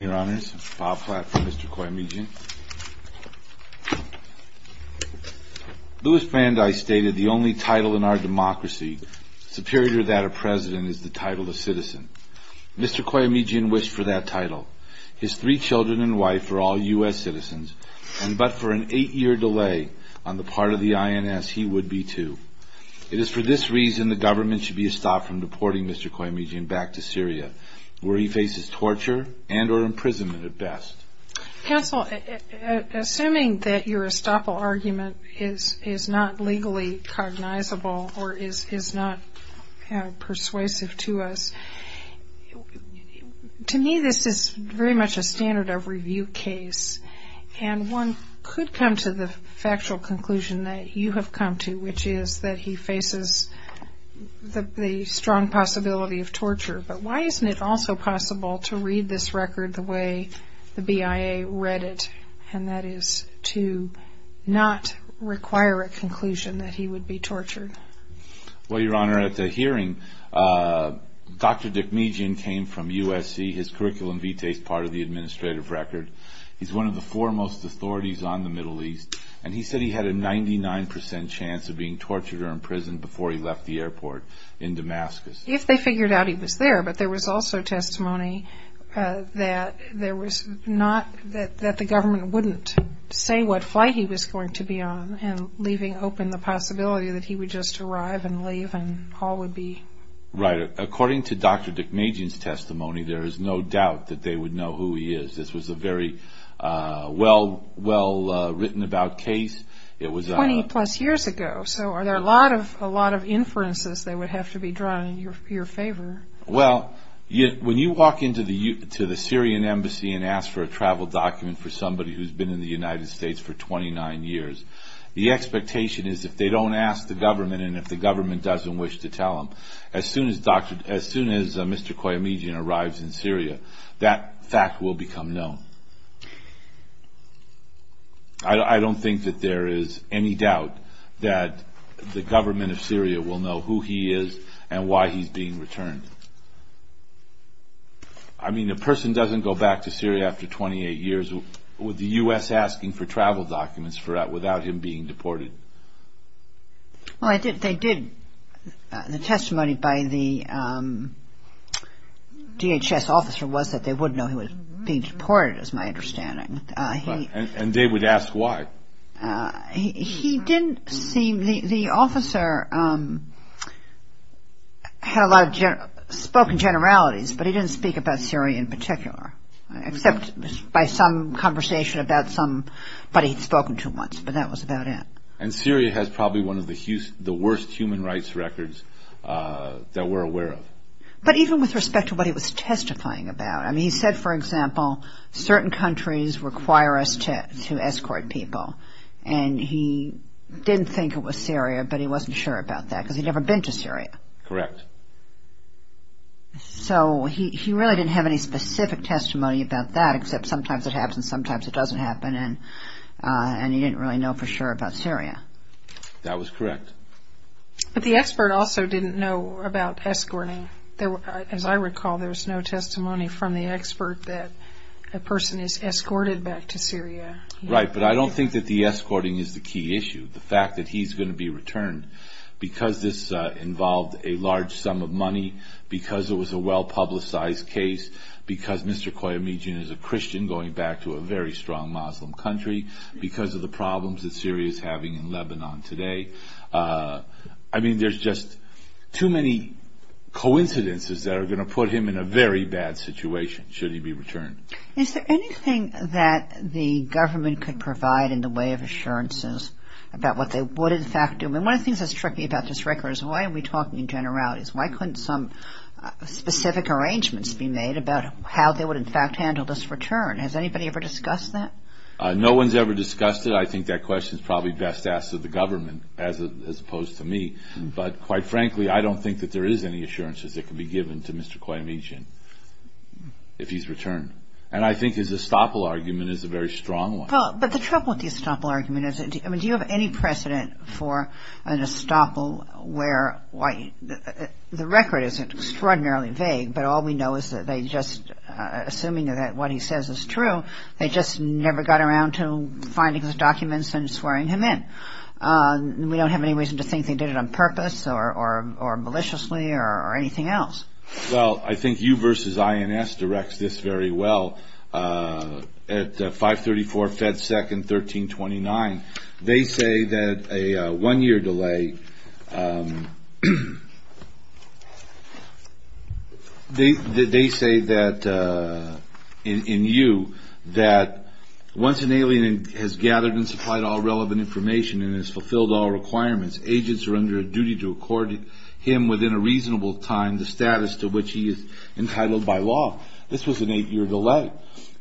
Your Honors, Bob Platt for Mr. Koyomejian. Louis Van Dyke stated the only title in our democracy superior to that of president is the title of citizen. Mr. Koyomejian wished for that title. His three children and wife are all U.S. citizens, and but for an eight-year delay on the part of the INS, he would be too. It is for this reason the government should be stopped from deporting Mr. Koyomejian back to Syria, where he faces torture and or imprisonment at best. Counsel, assuming that your estoppel argument is not legally cognizable or is not persuasive to us, to me this is very much a standard of review case, and one could come to the factual conclusion that you have come to, which is that he faces the strong possibility of torture. But why isn't it also possible to read this record the way the BIA read it, and that is to not require a conclusion that he would be tortured? Well, Your Honor, at the hearing, Dr. Dikmejian came from USC. His curriculum vitates part of the administrative record. He's one of the foremost authorities on the Middle East, and he said he had a 99% chance of being tortured or imprisoned before he left the airport in Damascus. If they figured out he was there, but there was also testimony that there was not, that the government wouldn't say what flight he was going to be on, and leaving open the possibility that he would just arrive and leave and all would be... Right. According to Dr. Dikmejian's testimony, there is no doubt that they would know who he is. This was a very well-written-about case. Twenty-plus years ago, so are there a lot of inferences that would have to be drawn in your favor? Well, when you walk into the Syrian embassy and ask for a travel document for somebody who's been in the United States for 29 years, the expectation is if they don't ask the government and if the government doesn't wish to tell them, as soon as Mr. Koyamidjian arrives in Syria, that fact will become known. I don't think that there is any doubt that the government of Syria will know who he is and why he's being returned. I mean, a person doesn't go back to Syria after 28 years with the U.S. asking for travel documents without him being deported. Well, they did. The testimony by the DHS officer was that they would know he was being deported, is my understanding. And they would ask why? He didn't seem... The officer had spoken generalities, but he didn't speak about Syria in particular, except by some conversation about somebody he'd spoken to once, but that was about it. And Syria has probably one of the worst human rights records that we're aware of. But even with respect to what he was testifying about, I mean, he said, for example, certain countries require us to escort people. And he didn't think it was Syria, but he wasn't sure about that because he'd never been to Syria. Correct. So he really didn't have any specific testimony about that, except sometimes it happens, sometimes it doesn't happen, and he didn't really know for sure about Syria. That was correct. But the expert also didn't know about escorting. As I recall, there was no testimony from the expert that a person is escorted back to Syria. Right, but I don't think that the escorting is the key issue. The fact that he's going to be returned, because this involved a large sum of money, because it was a well-publicized case, because Mr. Koyemejin is a Christian going back to a very strong Muslim country, because of the problems that Syria is having in Lebanon today. I mean, there's just too many coincidences that are going to put him in a very bad situation should he be returned. Is there anything that the government could provide in the way of assurances about what they would in fact do? I mean, one of the things that's tricky about this record is why are we talking in generalities? Why couldn't some specific arrangements be made about how they would in fact handle this return? Has anybody ever discussed that? No one's ever discussed it. I think that question is probably best asked of the government as opposed to me. But quite frankly, I don't think that there is any assurances that can be given to Mr. Koyemejin if he's returned. And I think his estoppel argument is a very strong one. But the trouble with the estoppel argument is, I mean, do you have any precedent for an estoppel where the record isn't extraordinarily vague, but all we know is that they just, assuming that what he says is true, they just never got around to finding his documents and swearing him in. We don't have any reason to think they did it on purpose or maliciously or anything else. Well, I think you versus INS directs this very well. At 534 Fed Second 1329, they say that a one-year delay, they say that in you that once an alien has gathered and supplied all relevant information and has fulfilled all requirements, agents are under a duty to accord him within a reasonable time the status to which he is entitled by law. This was an eight-year delay.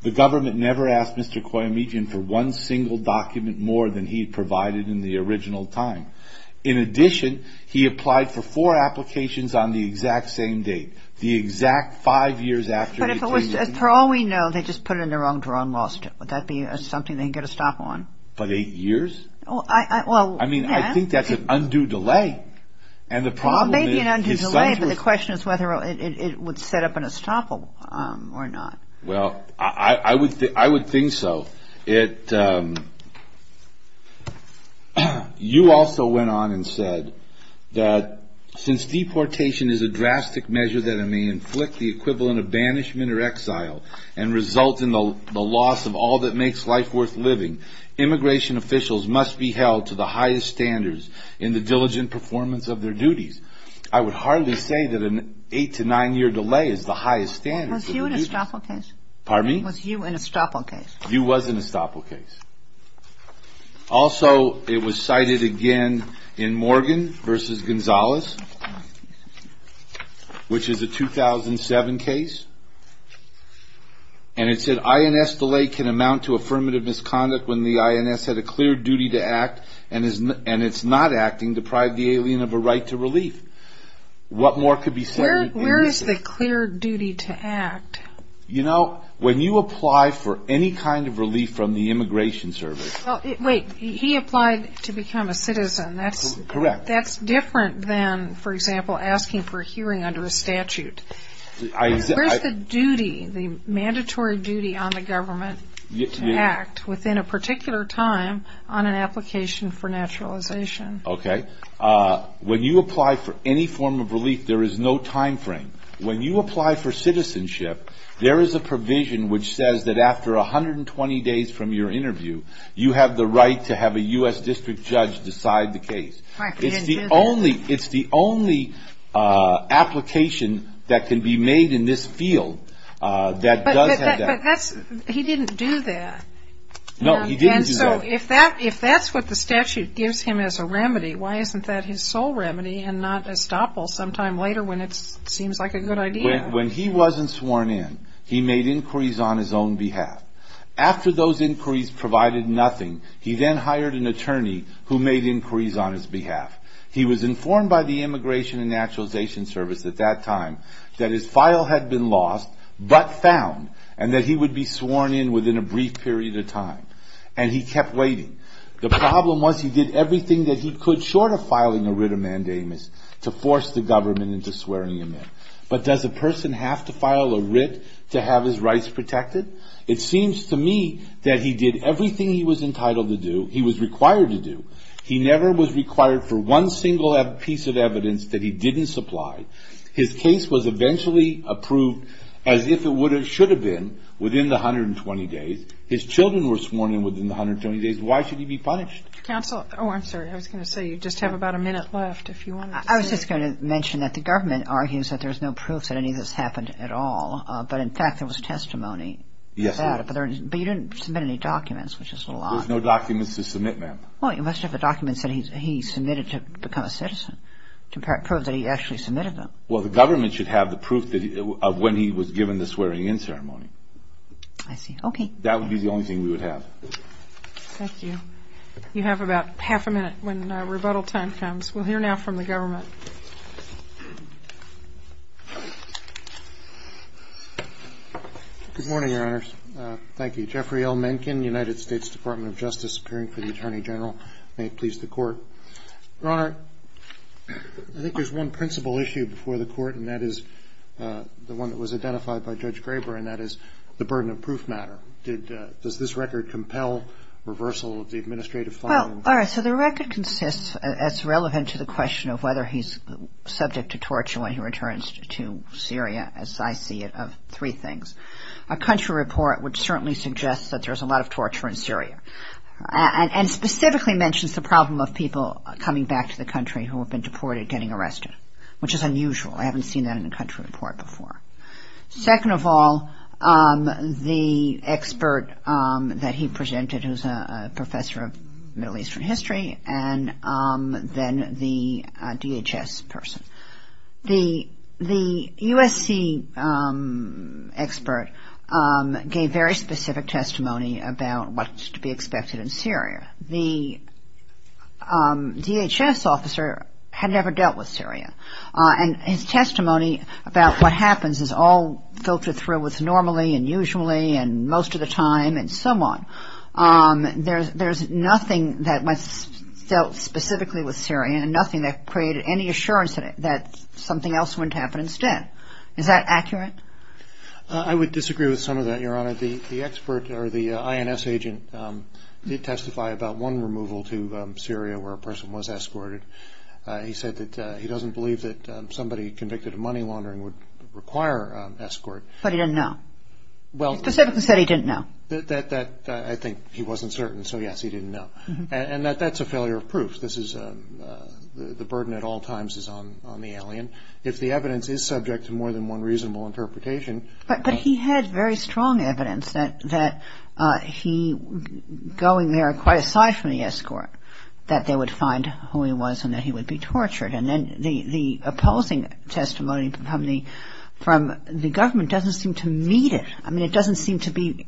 The government never asked Mr. Koyemejin for one single document more than he had provided in the original time. In addition, he applied for four applications on the exact same date, the exact five years after he came in. But if it was, for all we know, they just put it in the wrong drawer and lost it. Would that be something they can get a stop on? But eight years? I mean, I think that's an undue delay. Well, maybe an undue delay, but the question is whether it would set up an estoppel or not. Well, I would think so. You also went on and said that since deportation is a drastic measure that may inflict the equivalent of banishment or exile and result in the loss of all that makes life worth living, immigration officials must be held to the highest standards in the diligent performance of their duties. I would hardly say that an eight- to nine-year delay is the highest standard. Was Hugh an estoppel case? Pardon me? Was Hugh an estoppel case? Hugh was an estoppel case. Also, it was cited again in Morgan v. Gonzalez, which is a 2007 case. And it said, INS delay can amount to affirmative misconduct when the INS had a clear duty to act and it's not acting deprived the alien of a right to relief. What more could be said? Where is the clear duty to act? You know, when you apply for any kind of relief from the Immigration Service Wait. He applied to become a citizen. That's different than, for example, asking for a hearing under a statute. Where's the duty, the mandatory duty on the government to act within a particular time on an application for naturalization? Okay. When you apply for any form of relief, there is no time frame. When you apply for citizenship, there is a provision which says that after 120 days from your interview, you have the right to have a U.S. district judge decide the case. It's the only application that can be made in this field that does have that. But he didn't do that. No, he didn't do that. And so if that's what the statute gives him as a remedy, why isn't that his sole remedy and not estoppel sometime later when it seems like a good idea? When he wasn't sworn in, he made inquiries on his own behalf. After those inquiries provided nothing, he then hired an attorney who made inquiries on his behalf. He was informed by the Immigration and Naturalization Service at that time that his file had been lost but found and that he would be sworn in within a brief period of time. And he kept waiting. The problem was he did everything that he could short of filing a writ of mandamus to force the government into swearing him in. But does a person have to file a writ to have his rights protected? It seems to me that he did everything he was entitled to do, he was required to do. He never was required for one single piece of evidence that he didn't supply. His case was eventually approved as if it should have been within the 120 days. His children were sworn in within the 120 days. Why should he be punished? Counsel, oh, I'm sorry. I was going to say you just have about a minute left if you wanted to say. I was just going to mention that the government argues that there's no proof that any of this happened at all. But, in fact, there was testimony. Yes. But you didn't submit any documents, which is a lie. There's no documents to submit, ma'am. Well, you must have a document that he submitted to become a citizen to prove that he actually submitted them. Well, the government should have the proof of when he was given the swearing in ceremony. I see. Okay. That would be the only thing we would have. Thank you. You have about half a minute when rebuttal time comes. We'll hear now from the government. Good morning, Your Honors. Thank you. Jeffrey L. Mencken, United States Department of Justice, appearing for the Attorney General. May it please the Court. Your Honor, I think there's one principal issue before the Court, and that is the one that was identified by Judge Graber, and that is the burden of proof matter. Does this record compel reversal of the administrative filing? Well, all right. So the record consists, as relevant to the question of whether he's subject to torture when he returns to Syria, as I see it, of three things. A country report would certainly suggest that there's a lot of torture in Syria, and specifically mentions the problem of people coming back to the country who have been deported getting arrested, which is unusual. I haven't seen that in a country report before. Second of all, the expert that he presented, who's a professor of Middle Eastern history, and then the DHS person. The USC expert gave very specific testimony about what's to be expected in Syria. The DHS officer had never dealt with Syria. And his testimony about what happens is all filtered through with normally and usually and most of the time and so on. There's nothing that was dealt specifically with Syria and nothing that created any assurance that something else wouldn't happen instead. Is that accurate? I would disagree with some of that, Your Honor. The expert or the INS agent did testify about one removal to Syria where a person was escorted. He said that he doesn't believe that somebody convicted of money laundering would require escort. But he didn't know. He specifically said he didn't know. I think he wasn't certain. So, yes, he didn't know. And that's a failure of proof. The burden at all times is on the alien. If the evidence is subject to more than one reasonable interpretation. But he had very strong evidence that he, going there quite aside from the escort, that they would find who he was and that he would be tortured. And then the opposing testimony from the government doesn't seem to meet it. I mean, it doesn't seem to be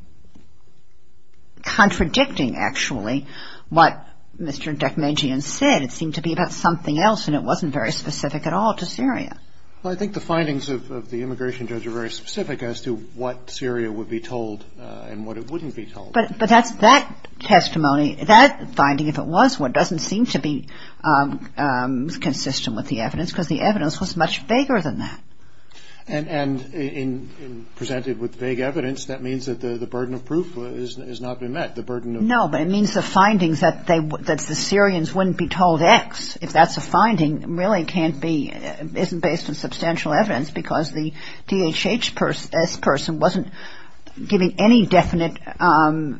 contradicting, actually, what Mr. Dechmegian said. It seemed to be about something else and it wasn't very specific at all to Syria. Well, I think the findings of the immigration judge are very specific as to what Syria would be told and what it wouldn't be told. But that testimony, that finding, if it was one, doesn't seem to be consistent with the evidence because the evidence was much vaguer than that. And presented with vague evidence, that means that the burden of proof has not been met. No, but it means the findings that the Syrians wouldn't be told X, if that's a finding, really can't be, isn't based on substantial evidence because the DHHS person wasn't giving any definite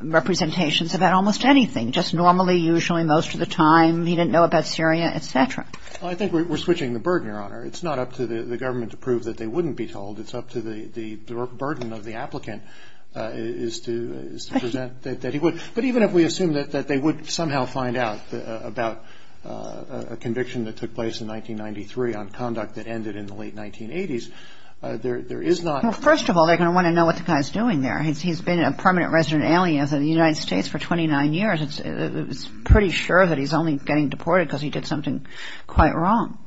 representations about almost anything, just normally, usually, most of the time, he didn't know about Syria, et cetera. Well, I think we're switching the burden, Your Honor. It's not up to the government to prove that they wouldn't be told. It's up to the burden of the applicant is to present that he would. But even if we assume that they would somehow find out about a conviction that took place in 1993 on conduct that ended in the late 1980s, there is not – Well, first of all, they're going to want to know what the guy's doing there. He's been a permanent resident alien of the United States for 29 years. It's pretty sure that he's only getting deported because he did something quite wrong.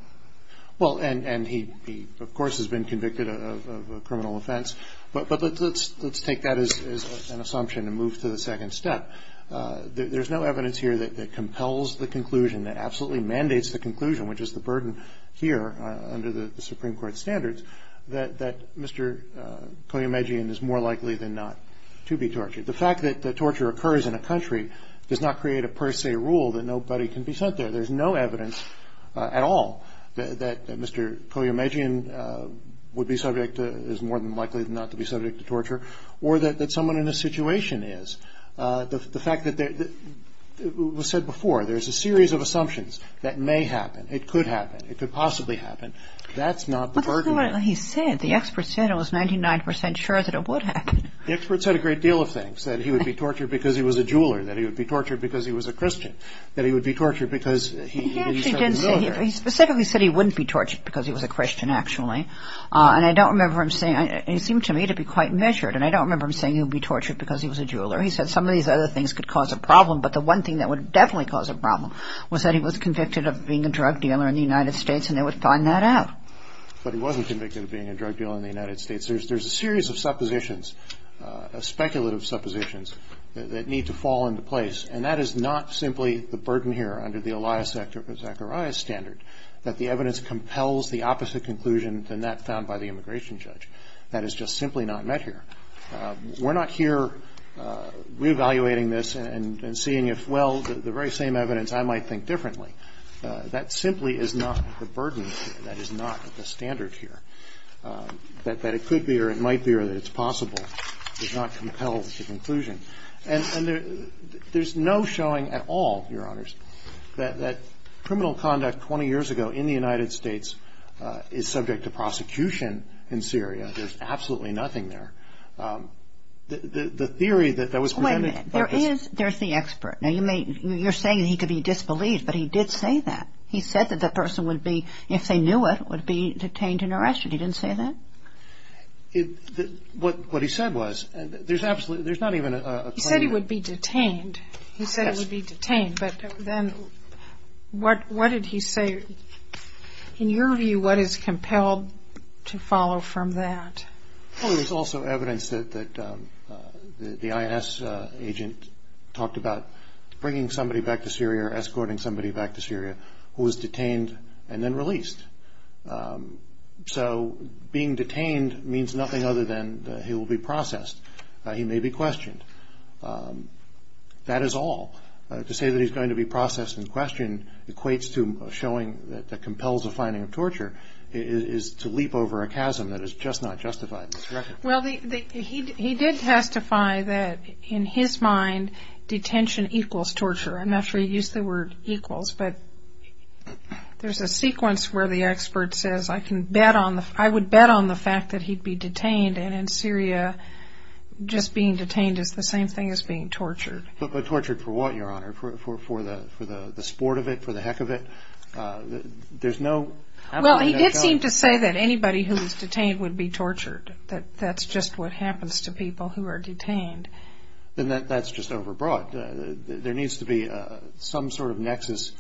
Well, and he, of course, has been convicted of a criminal offense. But let's take that as an assumption and move to the second step. There's no evidence here that compels the conclusion, that absolutely mandates the conclusion, which is the burden here under the Supreme Court standards, that Mr. Koyemejian is more likely than not to be tortured. The fact that torture occurs in a country does not create a per se rule that nobody can be sent there. There's no evidence at all that Mr. Koyemejian would be subject to – is more than likely than not to be subject to torture or that someone in this situation is. The fact that – it was said before, there's a series of assumptions that may happen. It could happen. It could possibly happen. That's not the burden. But that's not what he said. The expert said it was 99 percent sure that it would happen. The expert said a great deal of things, that he would be tortured because he was a jeweler, that he would be tortured because he was a Christian, that he would be tortured because he didn't serve the military. He specifically said he wouldn't be tortured because he was a Christian, actually. And I don't remember him saying – he seemed to me to be quite measured, and I don't remember him saying he would be tortured because he was a jeweler. He said some of these other things could cause a problem, but the one thing that would definitely cause a problem was that he was convicted of being a drug dealer in the United States, and they would find that out. But he wasn't convicted of being a drug dealer in the United States. There's a series of suppositions, speculative suppositions, that need to fall into place, and that is not simply the burden here under the Elias Zacharias standard, that the evidence compels the opposite conclusion than that found by the immigration judge. That is just simply not met here. We're not here reevaluating this and seeing if, well, the very same evidence, I might think differently. That simply is not the burden here. That is not the standard here. That it could be or it might be or that it's possible is not compelled to conclusion. And there's no showing at all, Your Honors, that criminal conduct 20 years ago in the United States is subject to prosecution in Syria. There's absolutely nothing there. The theory that was presented – Wait a minute. There is – there's the expert. Now, you're saying that he could be disbelieved, but he did say that. He said that the person would be, if they knew it, would be detained and arrested. He didn't say that? What he said was – there's absolutely – there's not even a – He said he would be detained. Yes. He said he would be detained, but then what did he say? In your view, what is compelled to follow from that? Well, there's also evidence that the INS agent talked about bringing somebody back to Syria or escorting somebody back to Syria who was detained and then released. So being detained means nothing other than he will be processed. He may be questioned. That is all. To say that he's going to be processed and questioned equates to showing that compels a finding of torture is to leap over a chasm that is just not justified in this record. Well, he did testify that in his mind detention equals torture. I'm not sure he used the word equals, but there's a sequence where the expert says, I can bet on the – I would bet on the fact that he'd be detained, and in Syria just being detained is the same thing as being tortured. But tortured for what, Your Honor? For the sport of it, for the heck of it? There's no – Well, he did seem to say that anybody who was detained would be tortured, that that's just what happens to people who are detained. Then that's just overbroad. There needs to be some sort of nexus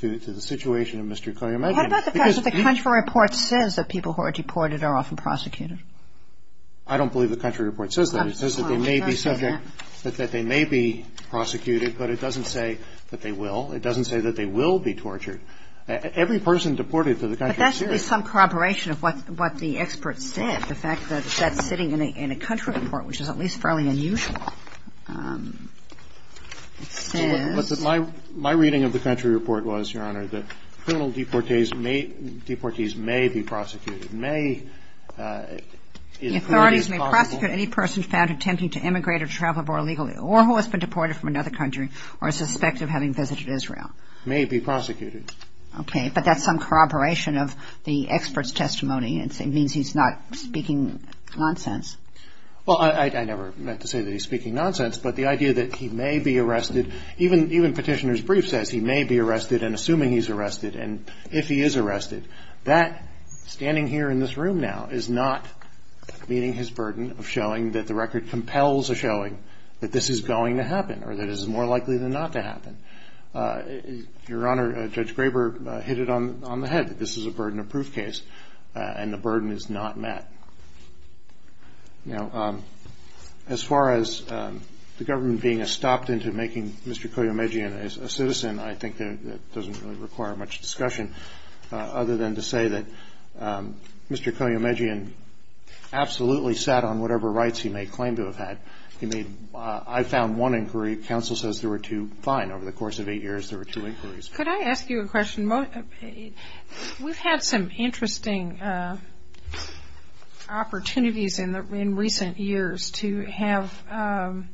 to the situation of Mr. Koyemev. What about the fact that the country report says that people who are deported are often prosecuted? I don't believe the country report says that. It says that they may be subject – that they may be prosecuted, but it doesn't say that they will. It doesn't say that they will be tortured. Every person deported to the country of Syria – But that's at least some corroboration of what the expert said, the fact that that's sitting in a country report, which is at least fairly unusual. It says – My reading of the country report was, Your Honor, that criminal deportees may be prosecuted, may – The authorities may prosecute any person found attempting to immigrate or travel abroad illegally or who has been deported from another country or is suspected of having visited Israel. May be prosecuted. Okay, but that's some corroboration of the expert's testimony. It means he's not speaking nonsense. Well, I never meant to say that he's speaking nonsense, but the idea that he may be arrested – even Petitioner's brief says he may be arrested and assuming he's arrested and if he is arrested. That, standing here in this room now, is not meeting his burden of showing that the record compels a showing that this is going to happen or that this is more likely than not to happen. Your Honor, Judge Graber hit it on the head that this is a burden of proof case and the burden is not met. Now, as far as the government being stopped into making Mr. Koyemejian a citizen, I think that doesn't really require much discussion, other than to say that Mr. Koyemejian absolutely sat on whatever rights he may claim to have had. He made – I found one inquiry. Counsel says there were two. Fine. Over the course of eight years, there were two inquiries. Could I ask you a question? We've had some interesting opportunities in recent years to have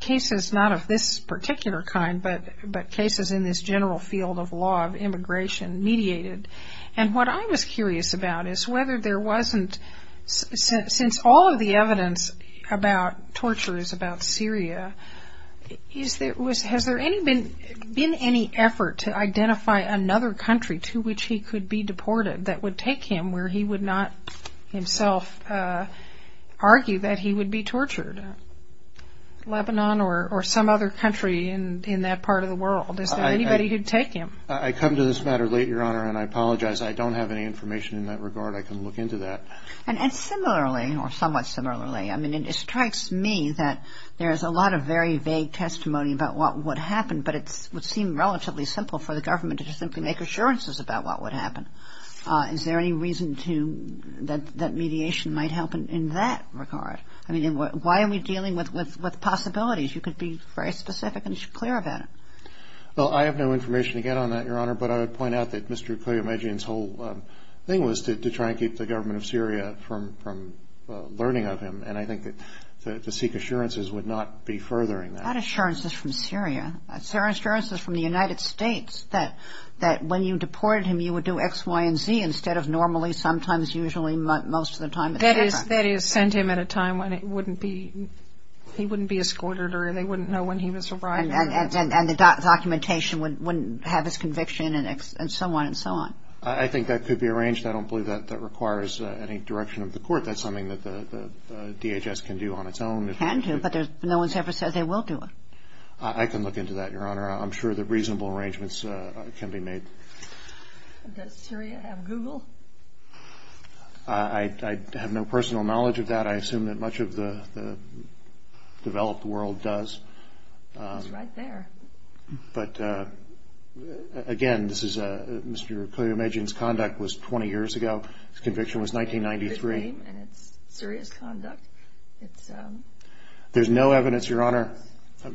cases not of this particular kind, but cases in this general field of law of immigration mediated. And what I was curious about is whether there wasn't – since all of the evidence about torture is about Syria, has there been any effort to identify another country to which he could be deported that would take him where he would not himself argue that he would be tortured? Lebanon or some other country in that part of the world? Is there anybody who would take him? I come to this matter late, Your Honor, and I apologize. I don't have any information in that regard. I can look into that. And similarly, or somewhat similarly, I mean, it strikes me that there is a lot of very vague testimony about what would happen, but it would seem relatively simple for the government to just simply make assurances about what would happen. Is there any reason to – that mediation might help in that regard? I mean, why are we dealing with possibilities? You could be very specific and clear about it. Well, I have no information to get on that, Your Honor, but I would point out that Mr. Koyemedjian's whole thing was to try and keep the government of Syria from learning of him, and I think that to seek assurances would not be furthering that. Not assurances from Syria. Assurances from the United States that when you deported him, you would do X, Y, and Z instead of normally, sometimes, usually, most of the time, et cetera. That is, send him at a time when it wouldn't be – he wouldn't be escorted or they wouldn't know when he was arriving. And the documentation wouldn't have his conviction and so on and so on. I think that could be arranged. I don't believe that requires any direction of the court. That's something that the DHS can do on its own. It can do, but no one's ever said they will do it. I can look into that, Your Honor. I'm sure that reasonable arrangements can be made. Does Syria have Google? I have no personal knowledge of that. I assume that much of the developed world does. It's right there. But, again, this is a – Mr. Qayyum Ejin's conduct was 20 years ago. His conviction was 1993. And it's serious conduct. There's no evidence, Your Honor.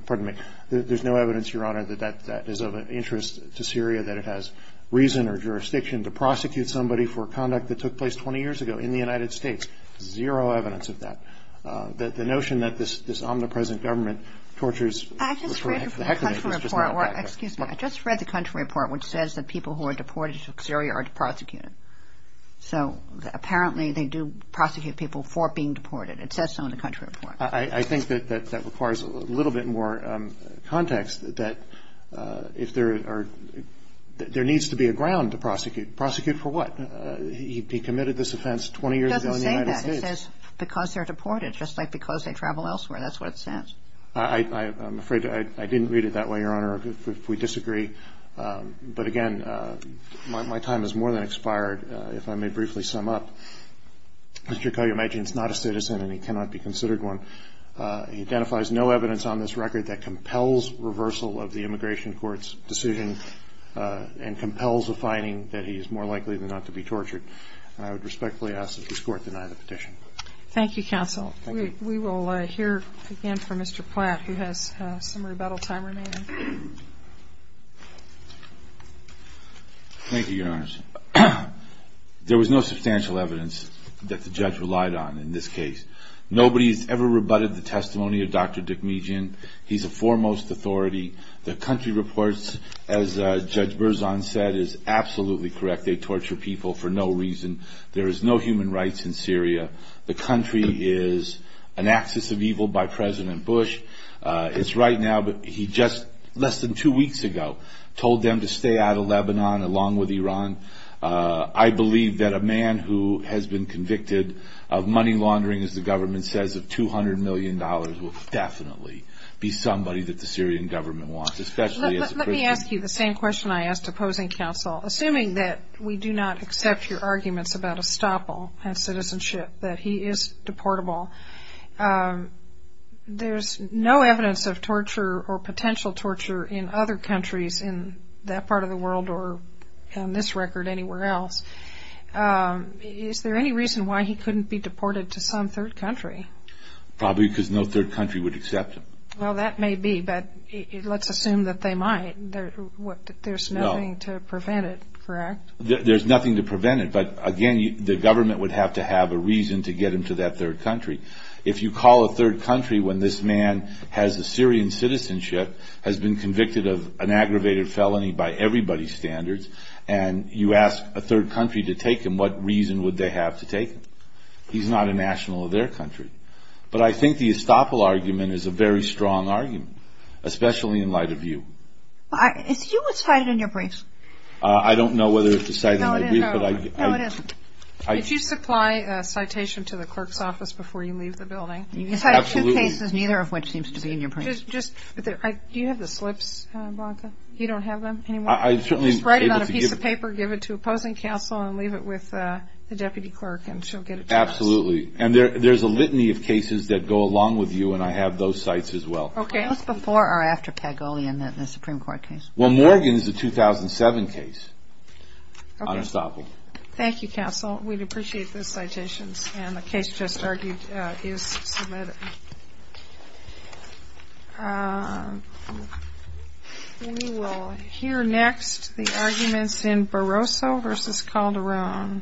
Pardon me. There's no evidence, Your Honor, that that is of interest to Syria, that it has reason or jurisdiction to prosecute somebody for conduct that took place 20 years ago in the United States. Zero evidence of that. The notion that this omnipresent government tortures – I just read the country report. Excuse me. I just read the country report which says that people who are deported to Syria are prosecuted. So, apparently, they do prosecute people for being deported. It says so in the country report. I think that that requires a little bit more context that if there are – there needs to be a ground to prosecute. Prosecute for what? He committed this offense 20 years ago in the United States. It doesn't say that. It says because they're deported, just like because they travel elsewhere. That's what it says. I'm afraid I didn't read it that way, Your Honor, if we disagree. But, again, my time has more than expired. If I may briefly sum up, Mr. Qayyum Ejin is not a citizen, and he cannot be considered one. He identifies no evidence on this record that compels reversal of the immigration court's decision and compels a finding that he is more likely than not to be tortured. And I would respectfully ask that this Court deny the petition. Thank you, counsel. We will hear again from Mr. Platt, who has some rebuttal time remaining. Thank you, Your Honor. There was no substantial evidence that the judge relied on in this case. Nobody has ever rebutted the testimony of Dr. Dick Meejin. He's a foremost authority. The country reports, as Judge Berzon said, is absolutely correct. They torture people for no reason. There is no human rights in Syria. The country is an axis of evil by President Bush. It's right now, but he just, less than two weeks ago, told them to stay out of Lebanon along with Iran. I believe that a man who has been convicted of money laundering, as the government says, of $200 million, will definitely be somebody that the Syrian government wants, especially as a Christian. Let me ask you the same question I asked opposing counsel. Assuming that we do not accept your arguments about estoppel and citizenship, that he is deportable, there's no evidence of torture or potential torture in other countries in that part of the world or, on this record, anywhere else. Is there any reason why he couldn't be deported to some third country? Probably because no third country would accept him. Well, that may be, but let's assume that they might. There's nothing to prevent it, correct? There's nothing to prevent it, but, again, the government would have to have a reason to get him to that third country. If you call a third country when this man has a Syrian citizenship, has been convicted of an aggravated felony by everybody's standards, and you ask a third country to take him, what reason would they have to take him? He's not a national of their country. But I think the estoppel argument is a very strong argument, especially in light of you. If you would cite it in your brief. I don't know whether to cite it in my brief. No, it is. If you supply a citation to the clerk's office before you leave the building, you can cite two cases, neither of which seems to be in your brief. Do you have the slips, Branka? You don't have them anymore? I certainly am able to give them. I'll take the paper, give it to opposing counsel, and leave it with the deputy clerk, and she'll get it to us. Absolutely. And there's a litany of cases that go along with you, and I have those cites as well. Okay. Both before or after Pagolian, the Supreme Court case? Well, Morgan is a 2007 case on estoppel. Okay. Thank you, counsel. We'd appreciate those citations. And the case just argued is submitted. Thank you. We will hear next the arguments in Barroso v. Calderon.